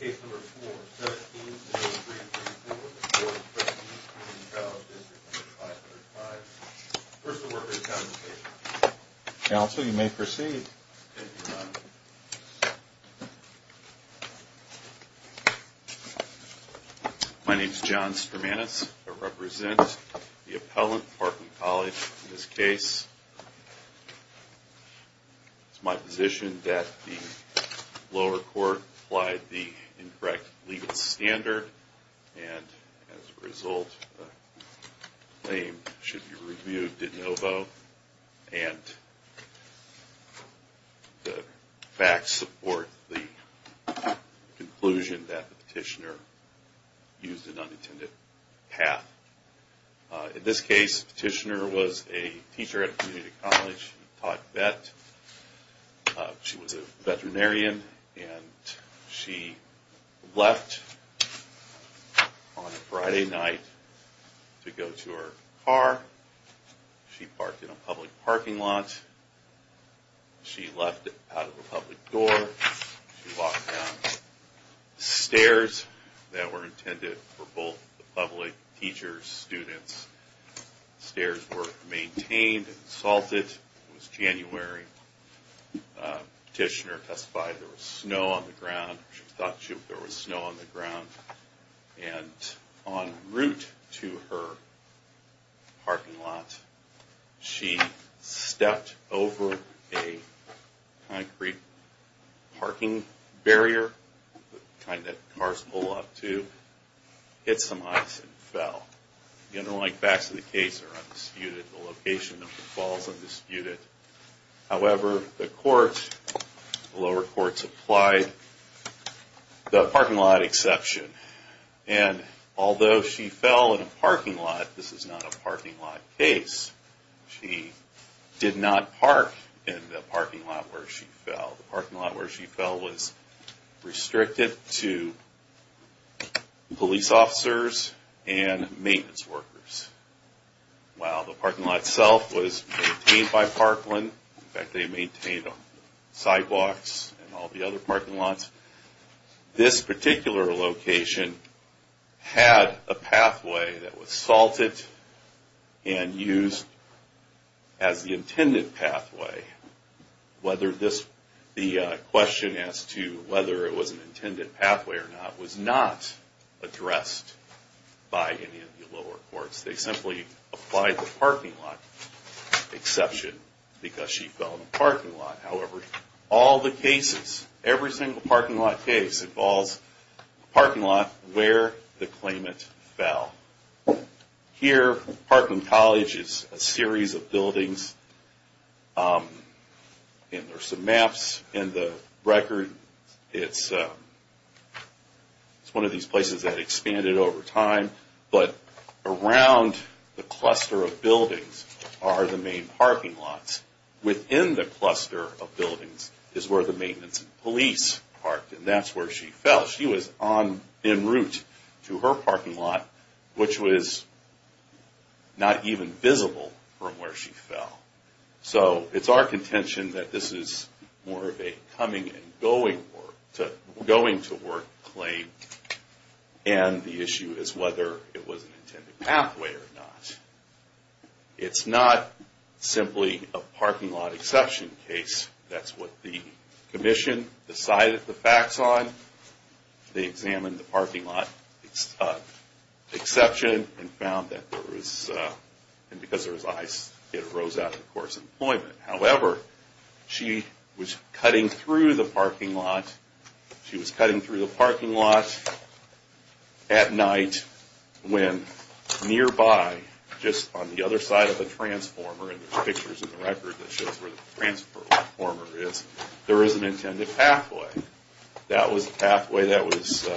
Case No. 4, 17-03-34, Board of Trustees of Community College Dist 505, 1st Award, Good Convocation. Counsel, you may proceed. My name is John Stramanis. I represent the appellant, Parkland College, in this case. It is my position that the lower court applied the incorrect legal standard, and as a result, the claim should be reviewed de novo, and the facts support the conclusion that the petitioner used an unintended path. In this case, the petitioner was a teacher at a community college. She taught vet. She was a veterinarian. She left on a Friday night to go to her car. She parked in a public parking lot. She left out of a public door. She walked down the stairs that were intended for both the public, teachers, and students. The stairs were maintained and salted. It was January. The petitioner testified that there was snow on the ground. She thought there was snow on the ground. En route to her parking lot, she stepped over a concrete parking barrier, the kind that cars pull up to, hit some ice, and fell. The underlying facts of the case are undisputed. The location of the fall is undisputed. However, the lower court applied the parking lot exception, and although she fell in a parking lot, this is not a parking lot case. She did not park in the parking lot where she fell. The parking lot where she fell was restricted to police officers and maintenance workers. While the parking lot itself was maintained by Parkland, in fact they maintained sidewalks and all the other parking lots, this particular location had a pathway that was salted and used as the intended pathway. The question as to whether it was an intended pathway or not was not addressed by any of the lower courts. They simply applied the parking lot exception because she fell in a parking lot. However, all the cases, every single parking lot case, involves a parking lot where the claimant fell. Here, Parkland College is a series of buildings, and there are some maps in the record. It's one of these places that expanded over time, but around the cluster of buildings are the main parking lots. Within the cluster of buildings is where the maintenance and police parked, and that's where she fell. She was en route to her parking lot, which was not even visible from where she fell. So it's our contention that this is more of a coming and going to work claim, and the issue is whether it was an intended pathway or not. It's not simply a parking lot exception case. That's what the commission decided the facts on. They examined the parking lot exception and found that because there was ice, it arose out of the court's employment. However, she was cutting through the parking lot at night when nearby, just on the other side of the transformer, and there's pictures in the record that shows where the transformer is, there is an intended pathway. That was the pathway that was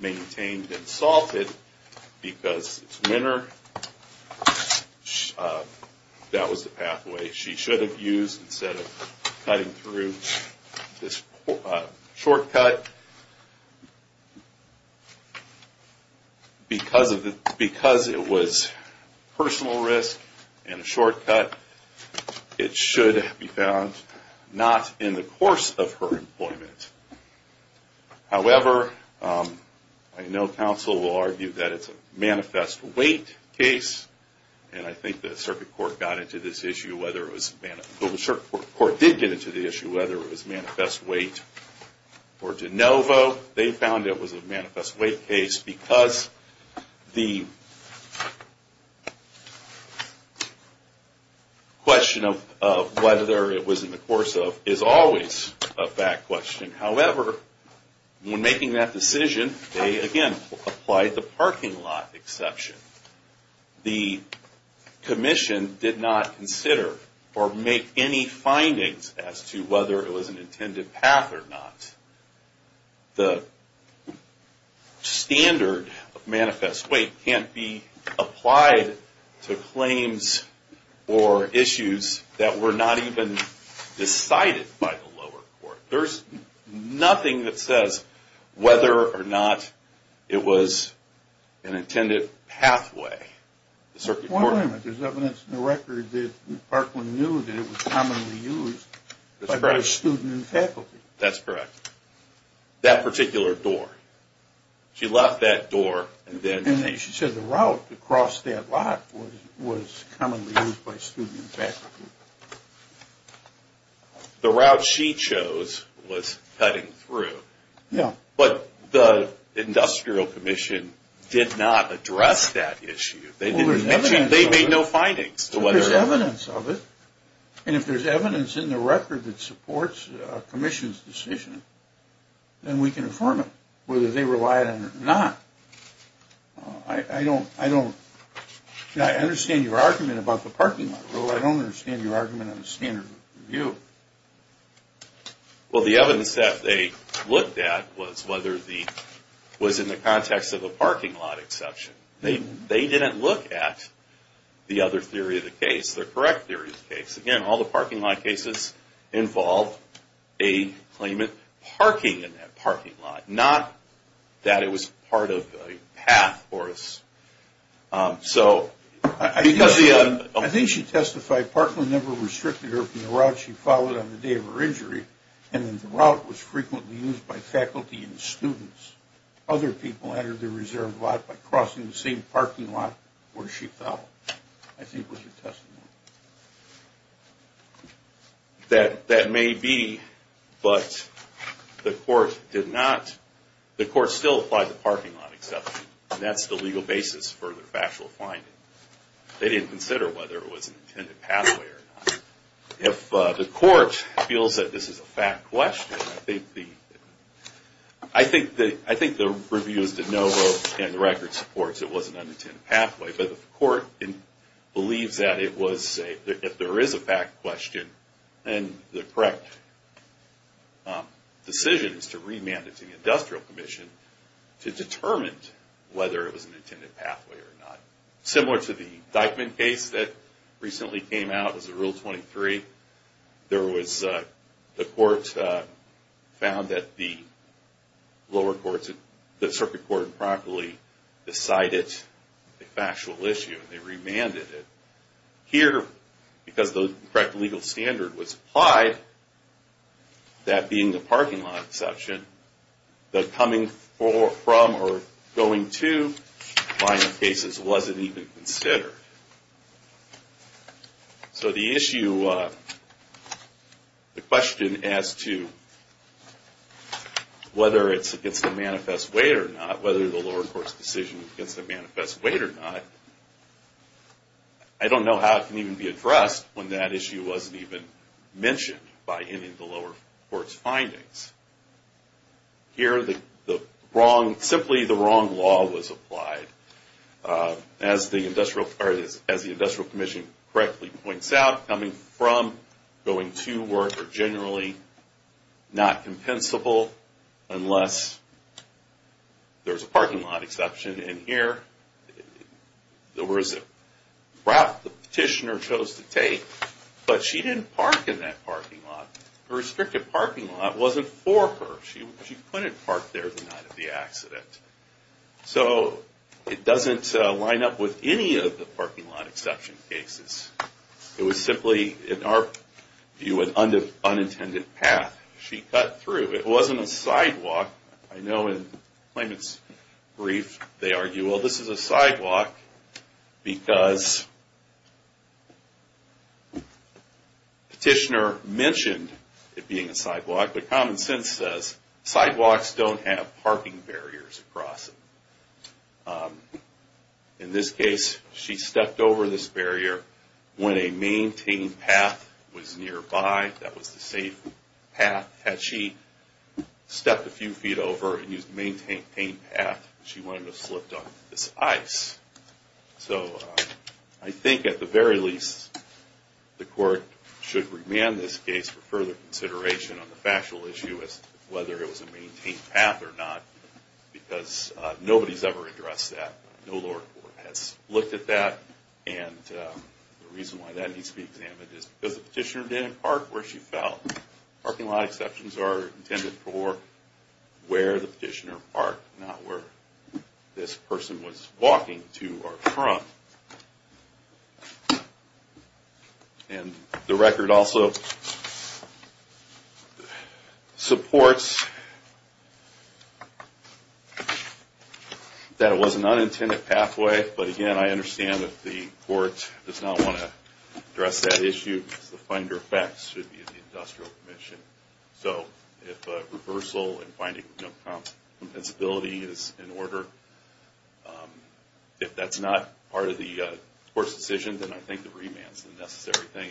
maintained and salted because it's winter. That was the pathway she should have used instead of cutting through this shortcut. Because it was personal risk and a shortcut, it should have been found not in the course of her employment. However, I know counsel will argue that it's a manifest weight case, and I think the circuit court got into this issue, the circuit court did get into the issue whether it was manifest weight or de novo. They found it was a manifest weight case because the question of whether it was in the course of is always a fact question. However, when making that decision, they again applied the parking lot exception. The commission did not consider or make any findings as to whether it was an intended path or not. The standard of manifest weight can't be applied to claims or issues that were not even decided by the lower court. There's nothing that says whether or not it was an intended pathway. There's evidence in the record that Parkland knew that it was commonly used by students and faculty. That's correct. That particular door. She left that door. She said the route across that lot was commonly used by students and faculty. The route she chose was cutting through. Yeah. But the industrial commission did not address that issue. They made no findings. There's evidence of it. And if there's evidence in the record that supports a commission's decision, then we can affirm it whether they rely on it or not. I don't understand your argument about the parking lot rule. I don't understand your argument on the standard of review. Well, the evidence that they looked at was in the context of a parking lot exception. They didn't look at the other theory of the case, the correct theory of the case. Again, all the parking lot cases involved a claimant parking in that parking lot, not that it was part of a path for us. I think she testified Parkland never restricted her from the route she followed on the day of her injury, and that the route was frequently used by faculty and students. Other people entered the reserved lot by crossing the same parking lot where she fell, I think was her testimony. That may be, but the court still applied the parking lot exception. And that's the legal basis for the factual finding. They didn't consider whether it was an intended pathway or not. If the court feels that this is a fact question, I think the reviewers did know both in the record supports it was an unintended pathway. But the court believes that it was, if there is a fact question, then the correct decision is to remand it to the industrial commission to determine whether it was an intended pathway or not. Similar to the Dyckman case that recently came out as a Rule 23, the court found that the circuit court improperly decided a factual issue and they remanded it. Here, because the correct legal standard was applied, that being the parking lot exception, the coming from or going to line of cases wasn't even considered. So the issue, the question as to whether it's against the manifest weight or not, whether the lower court's decision is against the manifest weight or not, I don't know how it can even be addressed when that issue wasn't even mentioned by any of the lower court's findings. Here, simply the wrong law was applied. As the industrial commission correctly points out, coming from, going to work are generally not compensable unless there's a parking lot exception. And here, the route the petitioner chose to take, but she didn't park in that parking lot. The restricted parking lot wasn't for her. She couldn't park there the night of the accident. So it doesn't line up with any of the parking lot exception cases. It was simply, in our view, an unintended path she cut through. It wasn't a sidewalk. I know in the claimant's brief, they argue, well, this is a sidewalk because petitioner mentioned it being a sidewalk, but common sense says sidewalks don't have parking barriers across them. In this case, she stepped over this barrier when a maintained path was nearby that was the safe path. Had she stepped a few feet over and used the maintained path, she wouldn't have slipped on this ice. So I think at the very least, the court should remand this case for further consideration on the factual issue as to whether it was a maintained path or not, because nobody's ever addressed that. No lower court has looked at that, and the reason why that needs to be examined is because the petitioner didn't park where she felt. Parking lot exceptions are intended for where the petitioner parked, not where this person was walking to or from. And the record also supports that it was an unintended pathway, but again, I understand that the court does not want to address that issue because the finder of facts should be the industrial commission. So if reversal and finding no compensability is in order, if that's not part of the court's decision, then I think the remand is the necessary thing,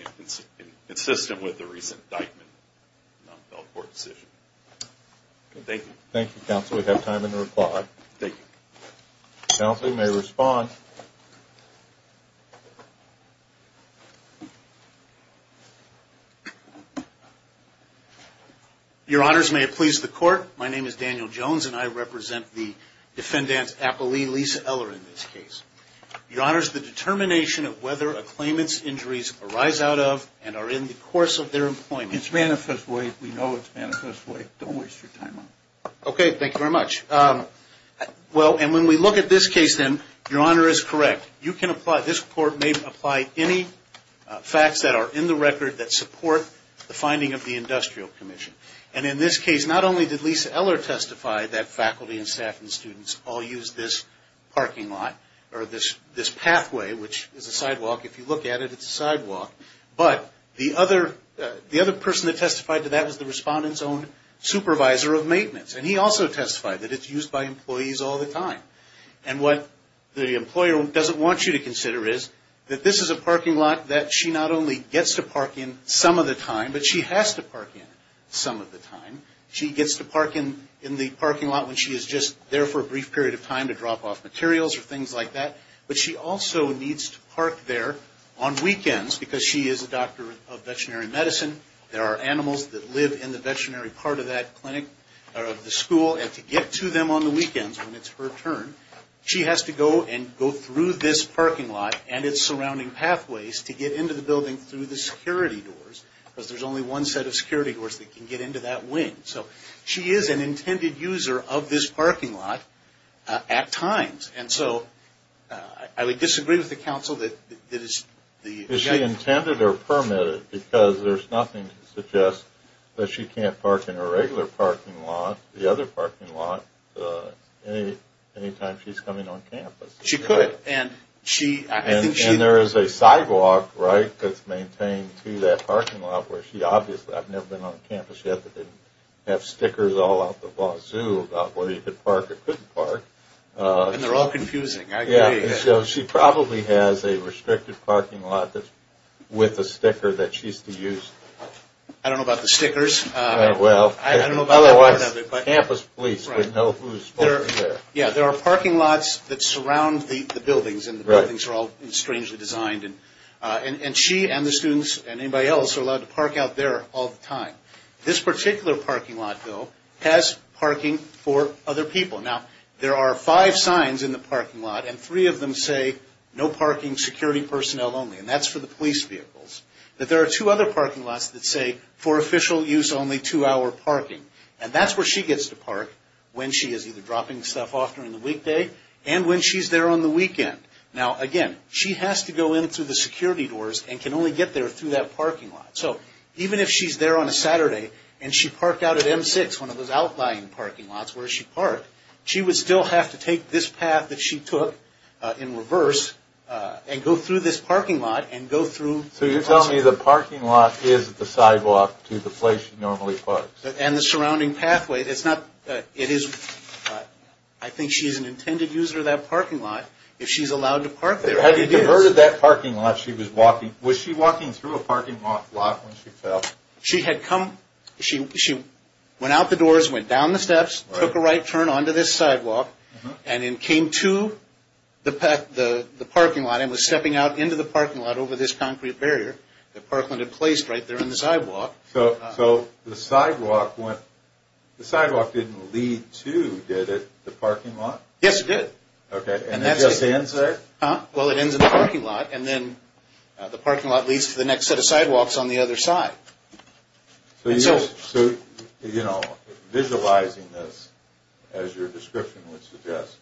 consistent with the recent indictment of the non-fell court decision. Thank you. Thank you, counsel. We have time in the report. Thank you. Counsel may respond. Your honors, may it please the court. My name is Daniel Jones, and I represent the defendant's appellee, Lisa Eller, in this case. Your honors, the determination of whether a claimant's injuries arise out of and are in the course of their employment. It's manifest way. We know it's manifest way. Don't waste your time on it. Okay. Thank you very much. Well, and when we look at this case, then, your honor is correct. You can apply, this court may apply any facts that are in the record that support the finding of the industrial commission. And in this case, not only did Lisa Eller testify that faculty and staff and students all used this parking lot, or this pathway, which is a sidewalk. If you look at it, it's a sidewalk. But the other person that testified to that was the respondent's own supervisor of maintenance. And he also testified that it's used by employees all the time. And what the employer doesn't want you to consider is that this is a parking lot that she not only gets to park in some of the time, but she has to park in some of the time. She gets to park in the parking lot when she is just there for a brief period of time to drop off materials or things like that. But she also needs to park there on weekends because she is a doctor of veterinary medicine. There are animals that live in the veterinary part of that clinic or of the school. And to get to them on the weekends when it's her turn, she has to go and go through this parking lot and its surrounding pathways to get into the building through the security doors. Because there's only one set of security doors that can get into that wing. So she is an intended user of this parking lot at times. And so I would disagree with the counsel that is the guy. It's intended or permitted because there's nothing to suggest that she can't park in her regular parking lot, the other parking lot, any time she's coming on campus. She could. And there is a sidewalk, right, that's maintained to that parking lot where she obviously, I've never been on campus yet that didn't have stickers all out the vaseau about whether you could park or couldn't park. And they're all confusing. So she probably has a restricted parking lot with a sticker that she used to use. I don't know about the stickers. I don't know about that part of it. Otherwise, campus police would know who's parking there. Yeah, there are parking lots that surround the buildings and the buildings are all strangely designed. And she and the students and anybody else are allowed to park out there all the time. This particular parking lot, though, has parking for other people. Now, there are five signs in the parking lot and three of them say, no parking, security personnel only. And that's for the police vehicles. But there are two other parking lots that say, for official use, only two-hour parking. And that's where she gets to park when she is either dropping stuff off during the weekday and when she's there on the weekend. Now, again, she has to go in through the security doors and can only get there through that parking lot. So even if she's there on a Saturday and she parked out at M6, one of those outlying parking lots where she parked, she would still have to take this path that she took in reverse and go through this parking lot and go through. So you're telling me the parking lot is the sidewalk to the place she normally parks? And the surrounding pathway. It's not – it is – I think she's an intended user of that parking lot. If she's allowed to park there, it is. So had you diverted that parking lot she was walking – was she walking through a parking lot when she fell? She had come – she went out the doors, went down the steps, took a right turn onto this sidewalk, and then came to the parking lot and was stepping out into the parking lot over this concrete barrier that Parkland had placed right there in the sidewalk. So the sidewalk went – the sidewalk didn't lead to, did it, the parking lot? Yes, it did. Okay. And it just ends there? Well, it ends in the parking lot, and then the parking lot leads to the next set of sidewalks on the other side. So, you know, visualizing this as your description would suggest,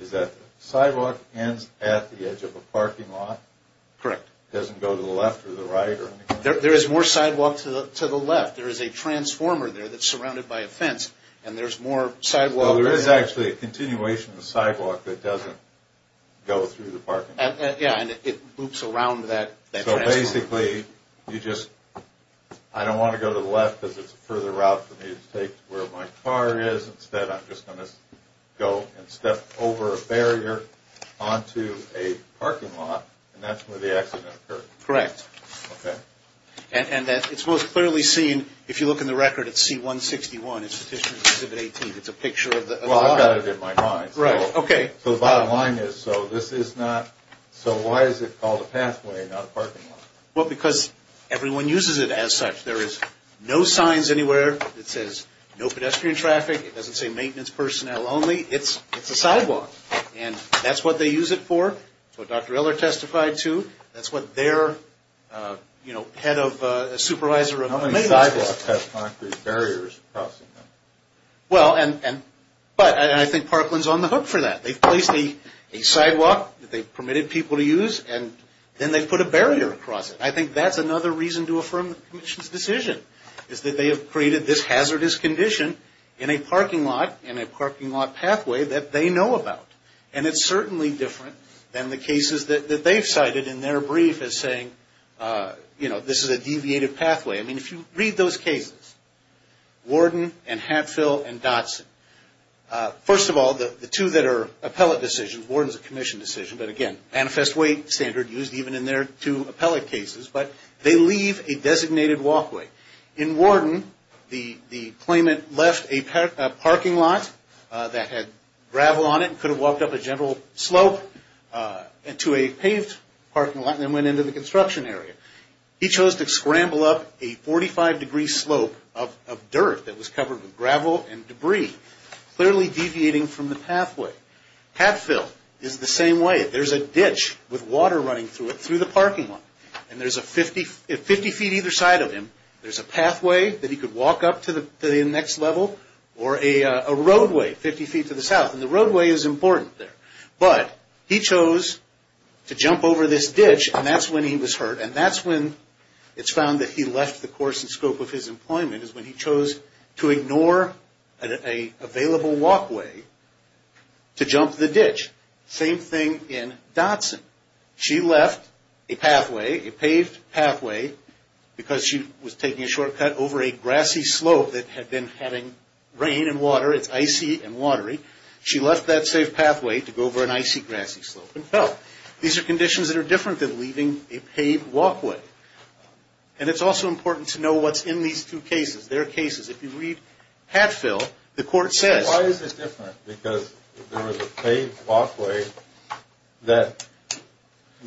is that the sidewalk ends at the edge of a parking lot? Correct. It doesn't go to the left or the right? There is more sidewalk to the left. There is a transformer there that's surrounded by a fence, and there's more sidewalk there. Well, there is actually a continuation of the sidewalk that doesn't go through the parking lot. Yeah, and it loops around that – So basically, you just – I don't want to go to the left because it's a further route for me to take to where my car is. Instead, I'm just going to go and step over a barrier onto a parking lot, and that's where the accident occurred. Correct. Okay. And it's most clearly seen, if you look in the record, at C-161, it's the District Exhibit 18. It's a picture of the – Well, I've got it in my mind. Right. Okay. So the bottom line is, so this is not – so why is it called a pathway and not a parking lot? Well, because everyone uses it as such. There is no signs anywhere that says no pedestrian traffic. It doesn't say maintenance personnel only. It's a sidewalk, and that's what they use it for. That's what Dr. Eller testified to. That's what their, you know, head of – supervisor of maintenance – How many sidewalks have concrete barriers crossing them? Well, and – but I think Parkland's on the hook for that. They've placed a sidewalk that they've permitted people to use, and then they've put a barrier across it. I think that's another reason to affirm the Commission's decision, is that they have created this hazardous condition in a parking lot, in a parking lot pathway, that they know about. And it's certainly different than the cases that they've cited in their brief as saying, you know, this is a deviated pathway. I mean, if you read those cases, Worden and Hatfill and Dotson, first of all, the two that are appellate decisions, Worden's a Commission decision, but again, manifest way standard used even in their two appellate cases, but they leave a designated walkway. In Worden, the claimant left a parking lot that had gravel on it and could have walked up a gentle slope into a paved parking lot and then went into the construction area. He chose to scramble up a 45-degree slope of dirt that was covered with gravel and debris, clearly deviating from the pathway. Hatfill is the same way. There's a ditch with water running through it, through the parking lot. And there's a 50 feet either side of him. There's a pathway that he could walk up to the next level or a roadway 50 feet to the south. And the roadway is important there. But he chose to jump over this ditch, and that's when he was hurt. And that's when it's found that he left the course and scope of his employment, is when he chose to ignore an available walkway to jump the ditch. Same thing in Dotson. She left a pathway, a paved pathway, because she was taking a shortcut over a grassy slope that had been having rain and water. It's icy and watery. She left that safe pathway to go over an icy, grassy slope and fell. These are conditions that are different than leaving a paved walkway. And it's also important to know what's in these two cases, their cases. If you read Hatfill, the court says- She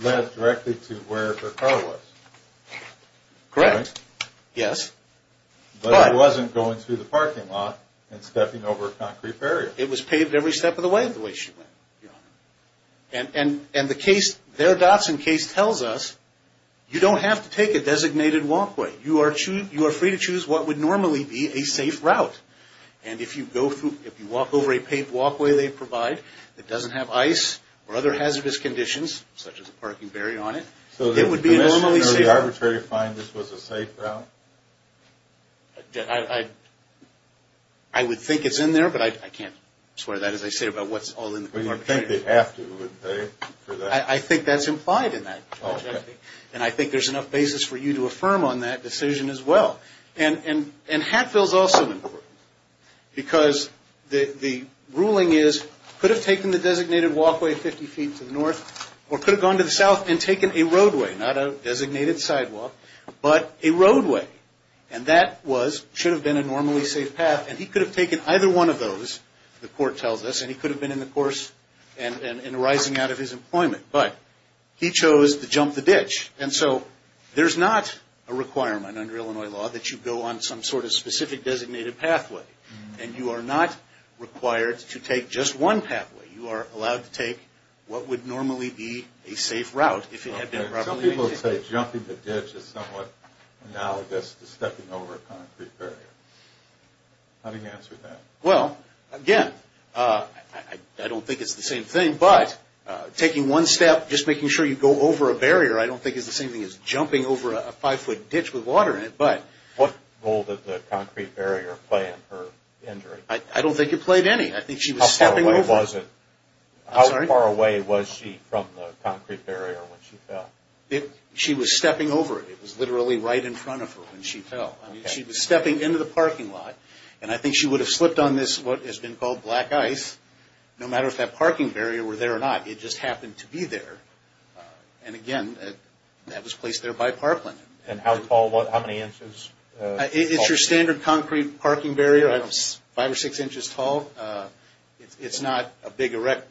left directly to where her car was. Correct. Yes. But she wasn't going through the parking lot and stepping over a concrete barrier. It was paved every step of the way the way she went. And their Dotson case tells us you don't have to take a designated walkway. You are free to choose what would normally be a safe route. And if you walk over a paved walkway they provide that doesn't have ice or other hazardous conditions, such as a parking barrier on it, it would be normally safe. So the arbitrator finds this was a safe route? I would think it's in there, but I can't swear that as I say about what's all in the court. But you think they have to, wouldn't they? I think that's implied in that. And I think there's enough basis for you to affirm on that decision as well. And Hatfill's also important because the ruling is could have taken the designated walkway 50 feet to the north or could have gone to the south and taken a roadway, not a designated sidewalk, but a roadway. And that should have been a normally safe path. And he could have taken either one of those, the court tells us, and he could have been in the course and rising out of his employment. But he chose to jump the ditch. And so there's not a requirement under Illinois law that you go on some sort of specific designated pathway. And you are not required to take just one pathway. You are allowed to take what would normally be a safe route. Some people say jumping the ditch is somewhat analogous to stepping over a concrete barrier. How do you answer that? Well, again, I don't think it's the same thing, but taking one step, just making sure you go over a barrier, I don't think it's the same thing as jumping over a five-foot ditch with water in it. What role did the concrete barrier play in her injury? I don't think it played any. How far away was she from the concrete barrier when she fell? She was stepping over it. It was literally right in front of her when she fell. She was stepping into the parking lot. And I think she would have slipped on this, what has been called black ice, no matter if that parking barrier were there or not. It just happened to be there. And, again, that was placed there by parkland. And how tall? How many inches? It's your standard concrete parking barrier. Five or six inches tall. It's not a big erect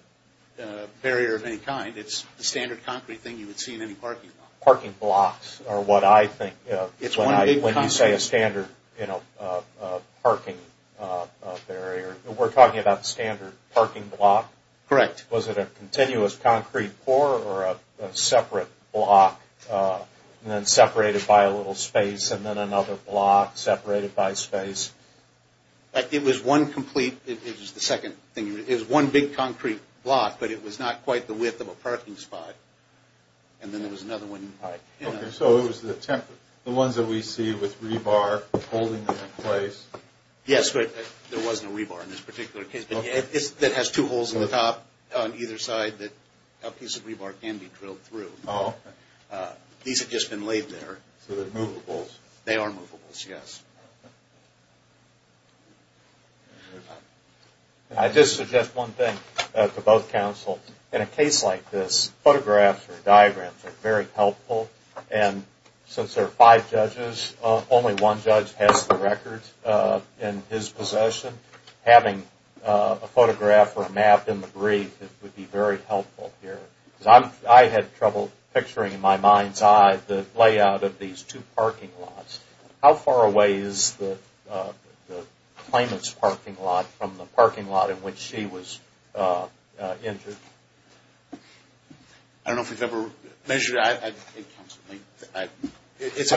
barrier of any kind. It's a standard concrete thing you would see in any parking lot. Parking blocks are what I think of when you say a standard parking barrier. We're talking about standard parking block? Correct. Was it a continuous concrete core or a separate block, and then separated by a little space, and then another block separated by space? It was one complete. It was the second thing. It was one big concrete block, but it was not quite the width of a parking spot. And then there was another one. So it was the ones that we see with rebar holding them in place? Yes, but there wasn't a rebar in this particular case. It has two holes in the top on either side that a piece of rebar can be drilled through. These have just been laid there. So they're movables. They are movables, yes. I just suggest one thing to both counsel. In a case like this, photographs or diagrams are very helpful. And since there are five judges, only one judge has the record in his possession. Having a photograph or a map in the brief would be very helpful here. I had trouble picturing in my mind's eye the layout of these two parking lots. How far away is the claimant's parking lot from the parking lot in which she was injured? I don't know if we've ever measured it. At least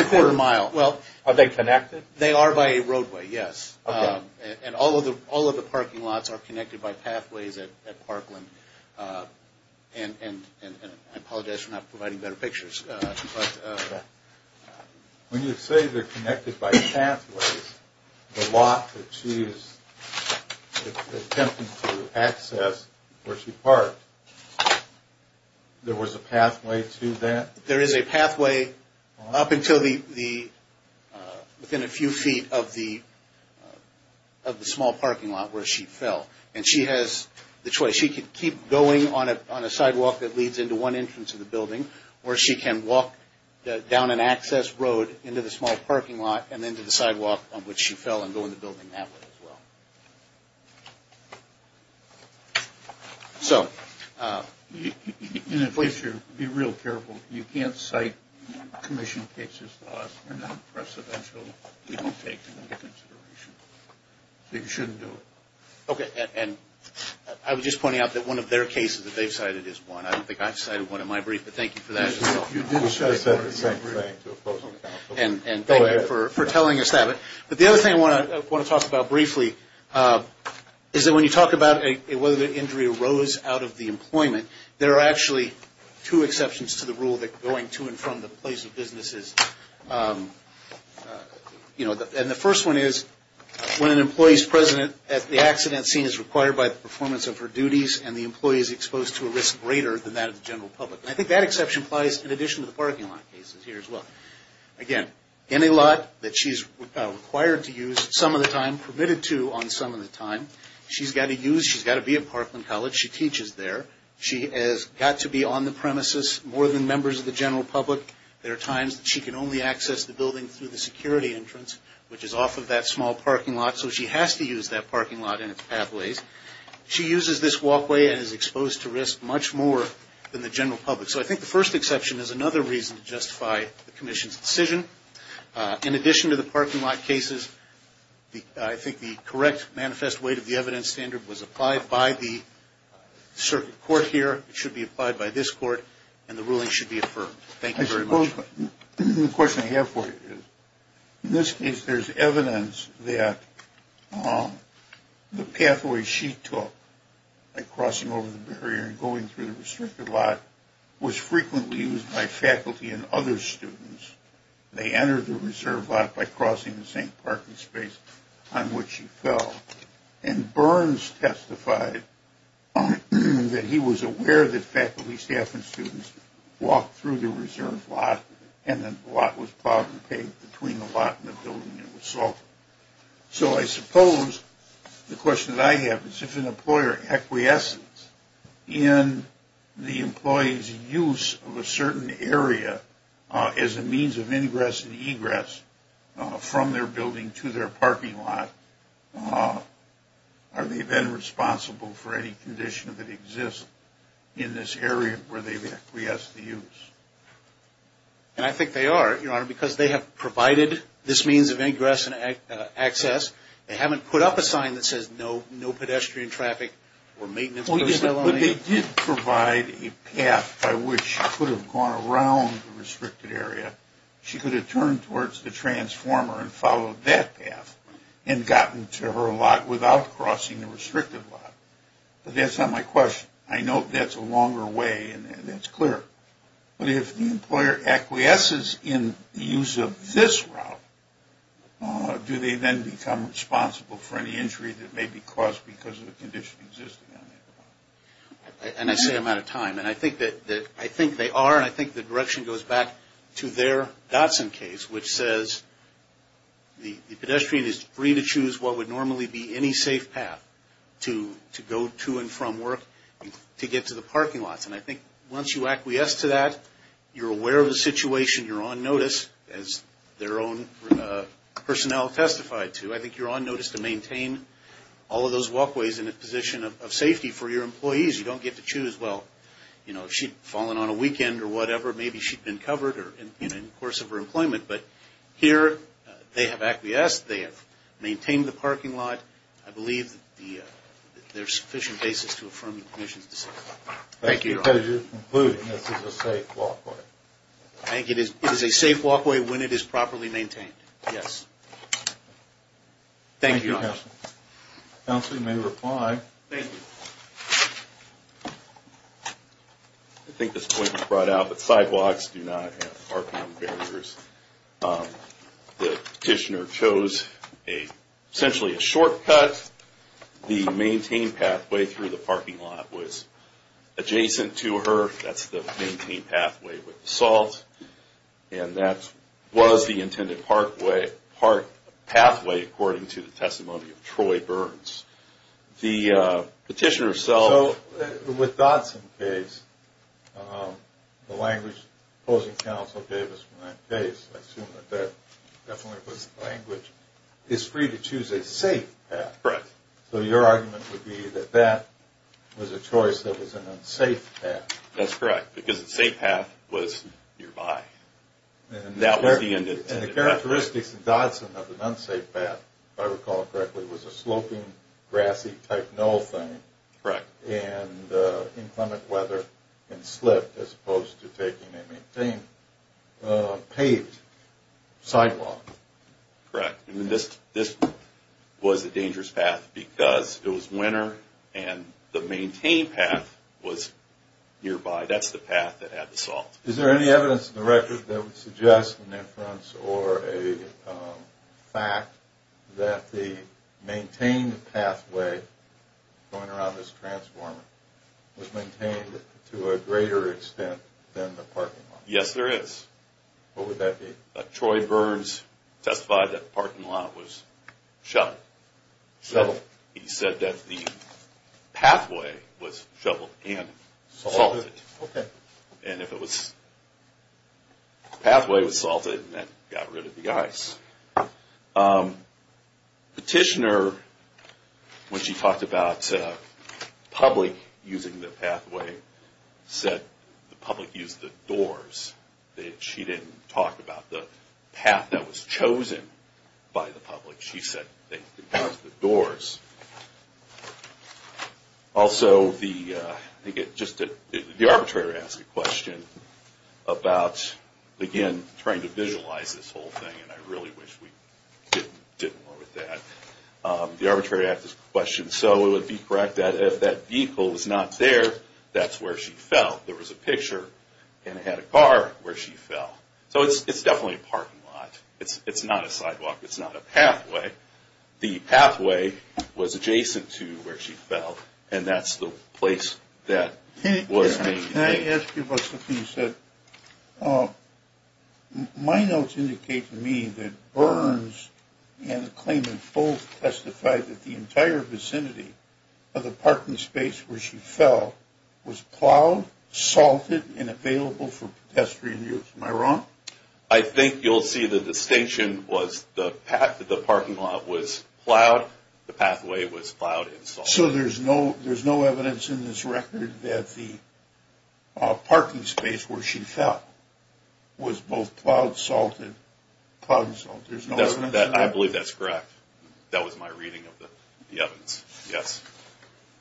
a quarter of a mile. Are they connected? They are by a roadway, yes. And all of the parking lots are connected by pathways at Parkland. And I apologize for not providing better pictures. When you say they're connected by pathways, the lot that she is attempting to access where she parked, there was a pathway to that? There is a pathway up until within a few feet of the small parking lot where she fell. And she has the choice. She can keep going on a sidewalk that leads into one entrance of the building, or she can walk down an access road into the small parking lot and into the sidewalk on which she fell and go in the building that way as well. So be real careful. You can't cite commission cases to us. They're not precedential. We won't take them into consideration. You shouldn't do it. Okay. And I was just pointing out that one of their cases that they've cited is one. I don't think I've cited one in my brief, but thank you for that. You did cite the same thing to oppose on the council. And thank you for telling us that. But the other thing I want to talk about briefly, is that when you talk about whether the injury arose out of the employment, there are actually two exceptions to the rule going to and from the place of businesses. And the first one is when an employee is present at the accident scene is required by the performance of her duties and the employee is exposed to a risk greater than that of the general public. And I think that exception applies in addition to the parking lot cases here as well. Again, any lot that she's required to use some of the time, permitted to on some of the time, she's got to use, she's got to be at Parkland College. She teaches there. She has got to be on the premises more than members of the general public. There are times that she can only access the building through the security entrance, which is off of that small parking lot. So she has to use that parking lot and its pathways. She uses this walkway and is exposed to risk much more than the general public. So I think the first exception is another reason to justify the commission's decision. In addition to the parking lot cases, I think the correct manifest weight of the evidence standard was applied by the circuit court here. It should be applied by this court, and the ruling should be affirmed. Thank you very much. I suppose the question I have for you is, in this case, going through the restricted lot was frequently used by faculty and other students. They entered the reserve lot by crossing the same parking space on which she fell. And Burns testified that he was aware that faculty, staff, and students walked through the reserve lot, and then the lot was plowed and paved between the lot and the building, and it was solved. So I suppose the question that I have is if an employer acquiesces in the employee's use of a certain area as a means of ingress and egress from their building to their parking lot, are they then responsible for any condition that exists in this area where they've acquiesced the use? And I think they are, Your Honor, because they have provided this means of ingress and access. They haven't put up a sign that says no pedestrian traffic or maintenance goes that way. But they did provide a path by which she could have gone around the restricted area. She could have turned towards the transformer and followed that path and gotten to her lot without crossing the restricted lot. But that's not my question. I know that's a longer way, and that's clear. But if the employer acquiesces in the use of this route, do they then become responsible for any injury that may be caused because of a condition existing on that route? And I say I'm out of time. And I think they are, and I think the direction goes back to their Dotson case, which says the pedestrian is free to choose what would normally be any safe path to go to and from work to get to the parking lots. And I think once you acquiesce to that, you're aware of the situation. You're on notice, as their own personnel testified to. I think you're on notice to maintain all of those walkways in a position of safety for your employees. You don't get to choose, well, you know, if she'd fallen on a weekend or whatever, maybe she'd been covered in the course of her employment. But here they have acquiesced. They have maintained the parking lot. I believe there's sufficient basis to affirm the commission's decision. Thank you, Your Honor. That's because you're concluding this is a safe walkway. I think it is a safe walkway when it is properly maintained, yes. Thank you, Your Honor. Thank you, Counsel. Counsel, you may reply. Thank you. I think this point was brought out, but sidewalks do not have RPM barriers. The petitioner chose essentially a shortcut. The maintained pathway through the parking lot was adjacent to her. That's the maintained pathway with the salt. And that was the intended pathway, according to the testimony of Troy Burns. The petitioner herself... So with Dodson's case, the language opposing counsel gave us in that case, I assume that that definitely was language, is free to choose a safe path. Correct. So your argument would be that that was a choice that was an unsafe path. That's correct, because the safe path was nearby. And the characteristics of Dodson of an unsafe path, if I recall correctly, was a sloping, grassy type null thing. Correct. And inclement weather and slip as opposed to taking a maintained paved sidewalk. Correct. This was a dangerous path because it was winter and the maintained path was nearby. That's the path that had the salt. Is there any evidence in the record that would suggest an inference or a fact that the maintained pathway going around this transformer was maintained to a greater extent than the parking lot? Yes, there is. What would that be? Troy Burns testified that the parking lot was shut. Shut. He said that the pathway was shuttled and salted. Okay. And if the pathway was salted, that got rid of the ice. Petitioner, when she talked about public using the pathway, said the public used the doors. She didn't talk about the path that was chosen by the public. She said they used the doors. Also, the arbitrator asked a question about, again, trying to visualize this whole thing, and I really wish we did more with that. The arbitrator asked this question. So it would be correct that if that vehicle was not there, that's where she fell. There was a picture and it had a car where she fell. So it's definitely a parking lot. It's not a sidewalk. It's not a pathway. The pathway was adjacent to where she fell, and that's the place that was being used. Can I ask you about something you said? My notes indicate to me that Burns and the claimant both testified that the entire vicinity of the parking space where she fell was plowed, salted, and available for pedestrian use. Am I wrong? I think you'll see the distinction was the parking lot was plowed, the pathway was plowed and salted. So there's no evidence in this record that the parking space where she fell was both plowed, salted, plowed and salted? I believe that's correct. That was my reading of the evidence, yes.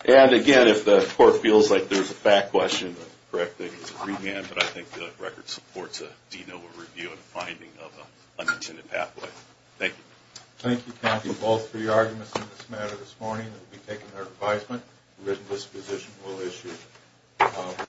And, again, if the court feels like there's a fact question, the correct thing is a remand, but I think the record supports a DNOA review and a finding of an unintended pathway. Thank you. Thank you, Kathy. All three arguments in this matter this morning will be taken under advisement. This position will issue.